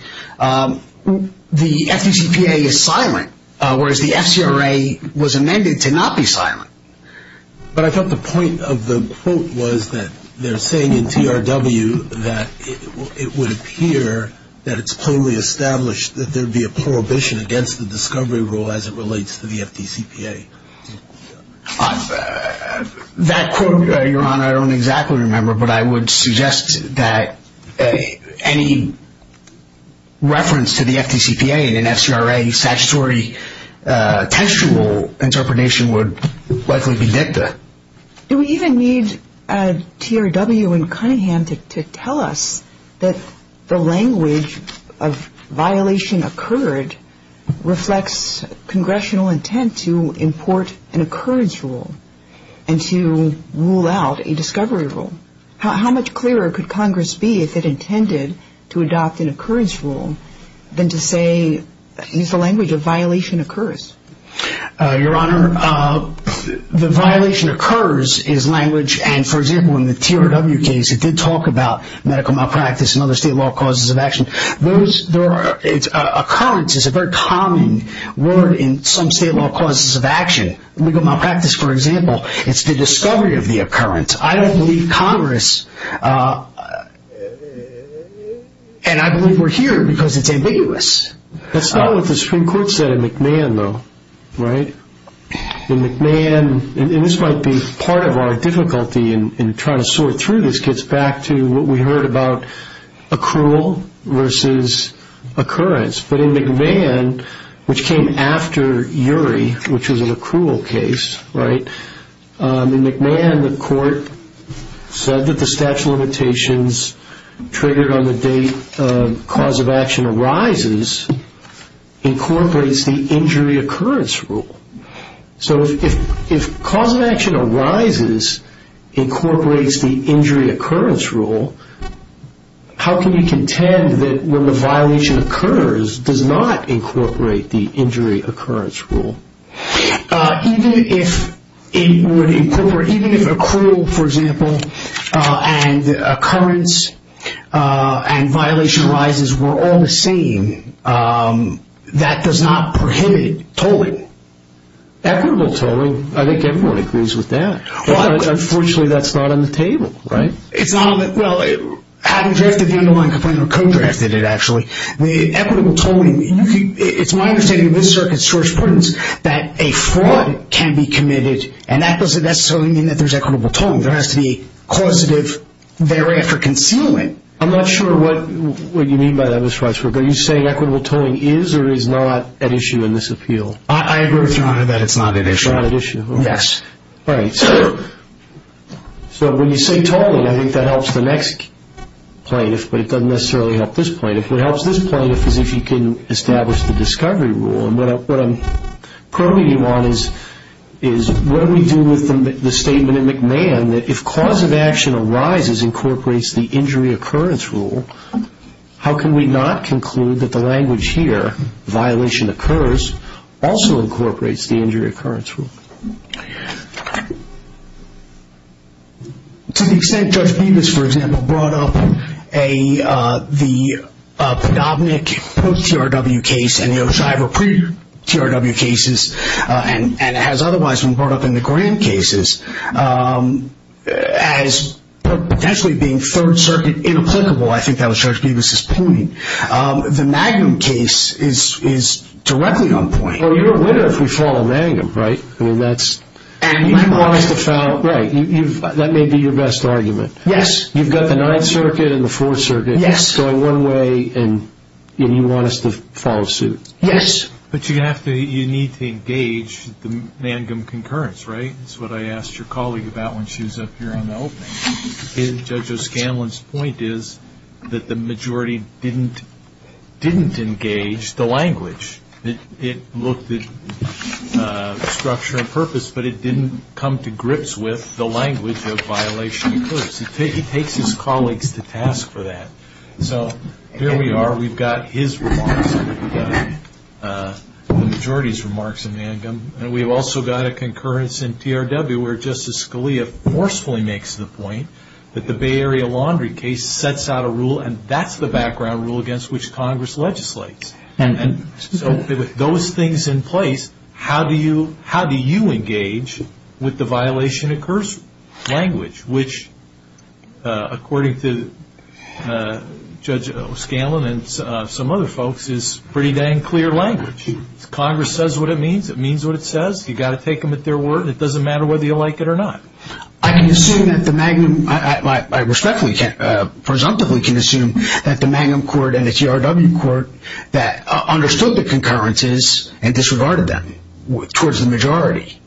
The FDCPA is silent, whereas the FCRA was amended to not be silent. But I thought the point of the quote was that they're saying in TRW that it would appear that it's plainly established that there would be a prohibition against the discovery rule as it relates to the FDCPA. That quote, Your Honor, I don't exactly remember, but I would suggest that any reference to the FDCPA in an FCRA statutory textual interpretation would likely be dicta. Do we even need a TRW in Cunningham to tell us that the language of violation occurred reflects congressional intent to import an occurrence rule and to rule out a discovery rule? How much clearer could Congress be if it intended to adopt an occurrence rule than to say, use the language of violation occurs? Your Honor, the violation occurs is language. And, for example, in the TRW case, it did talk about medical malpractice and other state law causes of action. Occurrence is a very common word in some state law causes of action. Legal malpractice, for example, it's the discovery of the occurrence. I don't believe Congress, and I believe we're here because it's ambiguous. That's not what the Supreme Court said in McMahon, though, right? In McMahon, and this might be part of our difficulty in trying to sort through this, gets back to what we heard about accrual versus occurrence. But in McMahon, which came after Urey, which was an accrual case, right, in McMahon, the court said that the statute of limitations triggered on the date cause of action arises incorporates the injury occurrence rule. So if cause of action arises incorporates the injury occurrence rule, how can you contend that when the violation occurs, does not incorporate the injury occurrence rule? Even if it would incorporate, even if accrual, for example, and occurrence and violation arises were all the same, that does not prohibit tolling. Equitable tolling, I think everyone agrees with that. Unfortunately, that's not on the table, right? It's not on the, well, having drafted the underlying complaint, or co-drafted it, actually, the equitable tolling, it's my understanding of this circuit's jurisprudence that a fraud can be committed, and that doesn't necessarily mean that there's equitable tolling. There has to be causative thereafter concealment. I'm not sure what you mean by that, Mr. Weisberg. Are you saying equitable tolling is or is not an issue in this appeal? I agree with your honor that it's not an issue. It's not an issue. Yes. Right. So when you say tolling, I think that helps the next plaintiff, but it doesn't necessarily help this plaintiff. What helps this plaintiff is if he can establish the discovery rule. And what I'm probing you on is what do we do with the statement in McMahon that if cause of action arises incorporates the injury occurrence rule, how can we not conclude that the language here, violation occurs, also incorporates the injury occurrence rule? To the extent Judge Bevis, for example, brought up the Padovnik post-TRW case and the O'Shiver pre-TRW cases, and it has otherwise been brought up in the Graham cases, as potentially being third circuit inapplicable, I think that was Judge Bevis' point. The Magnum case is directly on point. Well, you're a winner if we follow Magnum, right? I mean, that's the foul. Right. That may be your best argument. Yes. You've got the Ninth Circuit and the Fourth Circuit going one way, and you want us to follow suit. Yes. But you need to engage the Magnum concurrence, right? That's what I asked your colleague about when she was up here on the opening. Judge O'Scanlan's point is that the majority didn't engage the language. It looked at structure and purpose, but it didn't come to grips with the language of violation occurs. It takes its colleagues to task for that. So here we are. We've got his remarks and we've got the majority's remarks in Magnum, and we've also got a concurrence in TRW where Justice Scalia forcefully makes the point that the Bay Area laundry case sets out a rule, and that's the background rule against which Congress legislates. And so with those things in place, how do you engage with the violation occurs language, which according to Judge O'Scanlan and some other folks is pretty dang clear language. Congress says what it means. It means what it says. You've got to take them at their word. It doesn't matter whether you like it or not. I can assume that the Magnum, I respectfully can't, presumptively can assume that the Magnum court and the TRW court that understood the concurrences and disregarded them towards the majority.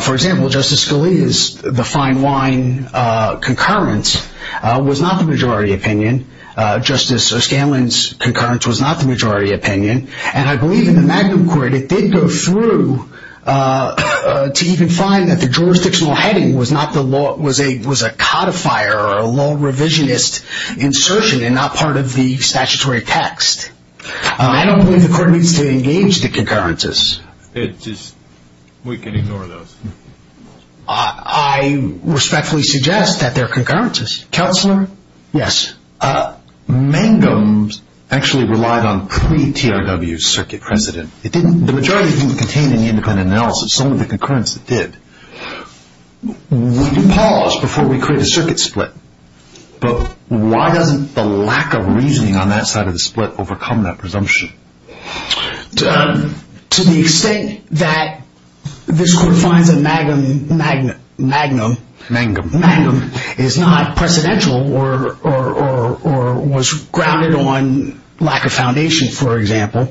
For example, Justice Scalia's, the fine wine concurrence was not the majority opinion. Justice O'Scanlan's concurrence was not the majority opinion. And I believe in the Magnum court it did go through to even find that the jurisdictional heading was a codifier or a law revisionist insertion and not part of the statutory text. I don't believe the court needs to engage the concurrences. We can ignore those. I respectfully suggest that they're concurrences. Counselor? Yes. Magnum actually relied on pre-TRW circuit precedent. The majority didn't contain any independent analysis. It's only the concurrence that did. We can pause before we create a circuit split, but why doesn't the lack of reasoning on that side of the split overcome that presumption? To the extent that this court finds that Magnum is not precedential or was grounded on lack of foundation, for example,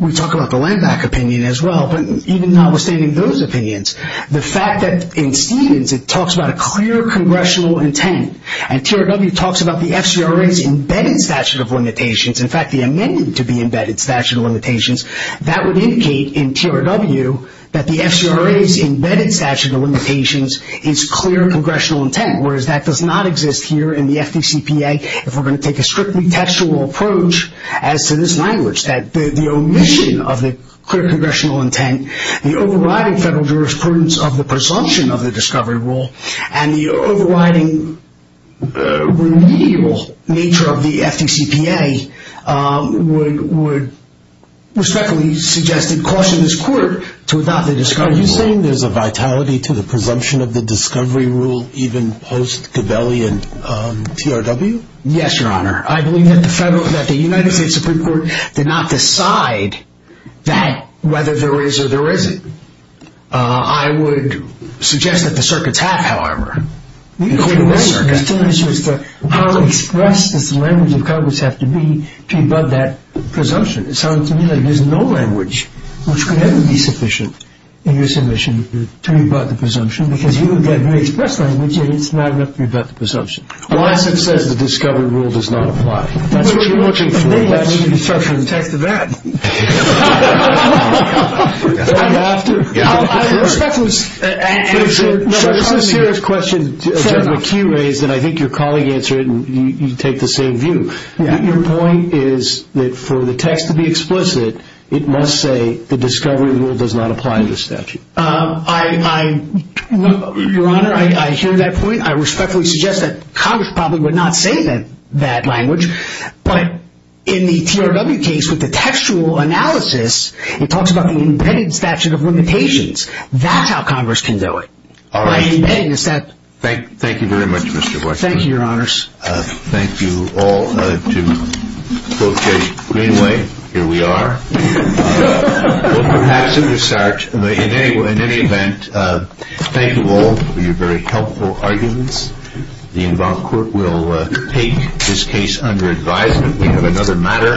we talk about the Land Back opinion as well, but even notwithstanding those opinions, the fact that in Stevens it talks about a clear congressional intent and TRW talks about the FCRA's embedded statute of limitations, in fact the amended-to-be-embedded statute of limitations, that would indicate in TRW that the FCRA's embedded statute of limitations is clear congressional intent, whereas that does not exist here in the FDCPA if we're going to take a strictly textual approach as to this language, that the omission of the clear congressional intent, the overriding federal jurisprudence of the presumption of the discovery rule, and the overriding remedial nature of the FDCPA, would respectfully suggest and caution this court to adopt the discovery rule. Are you saying there's a vitality to the presumption of the discovery rule even post-Cabelli and TRW? Yes, Your Honor. I believe that the United States Supreme Court did not decide that, whether there is or there isn't. I would suggest that the circuits have, however. There's still an issue as to how expressed does the language of Congress have to be to rebut that presumption. It sounds to me like there's no language which could ever be sufficient in your submission to rebut the presumption, because you would get very expressed language, and it's not enough to rebut the presumption. Well, as it says, the discovery rule does not apply. That's what you're looking for. Well, then let's start from the text of that. I'm after? Respectfully, sir. There's a serious question, Judge McKee, raised, and I think your colleague answered it, and you take the same view. Your point is that for the text to be explicit, it must say the discovery rule does not apply to the statute. Your Honor, I hear that point. I respectfully suggest that Congress probably would not say that language. But in the TRW case, with the textual analysis, it talks about the embedded statute of limitations. That's how Congress can do it. All right. By embedding the statute. Thank you very much, Mr. Boyd. Thank you, Your Honors. Thank you all to both Judge Greenway. Here we are. Well, perhaps it will start. In any event, thank you all for your very helpful arguments. The involved court will take this case under advisement. We have another matter.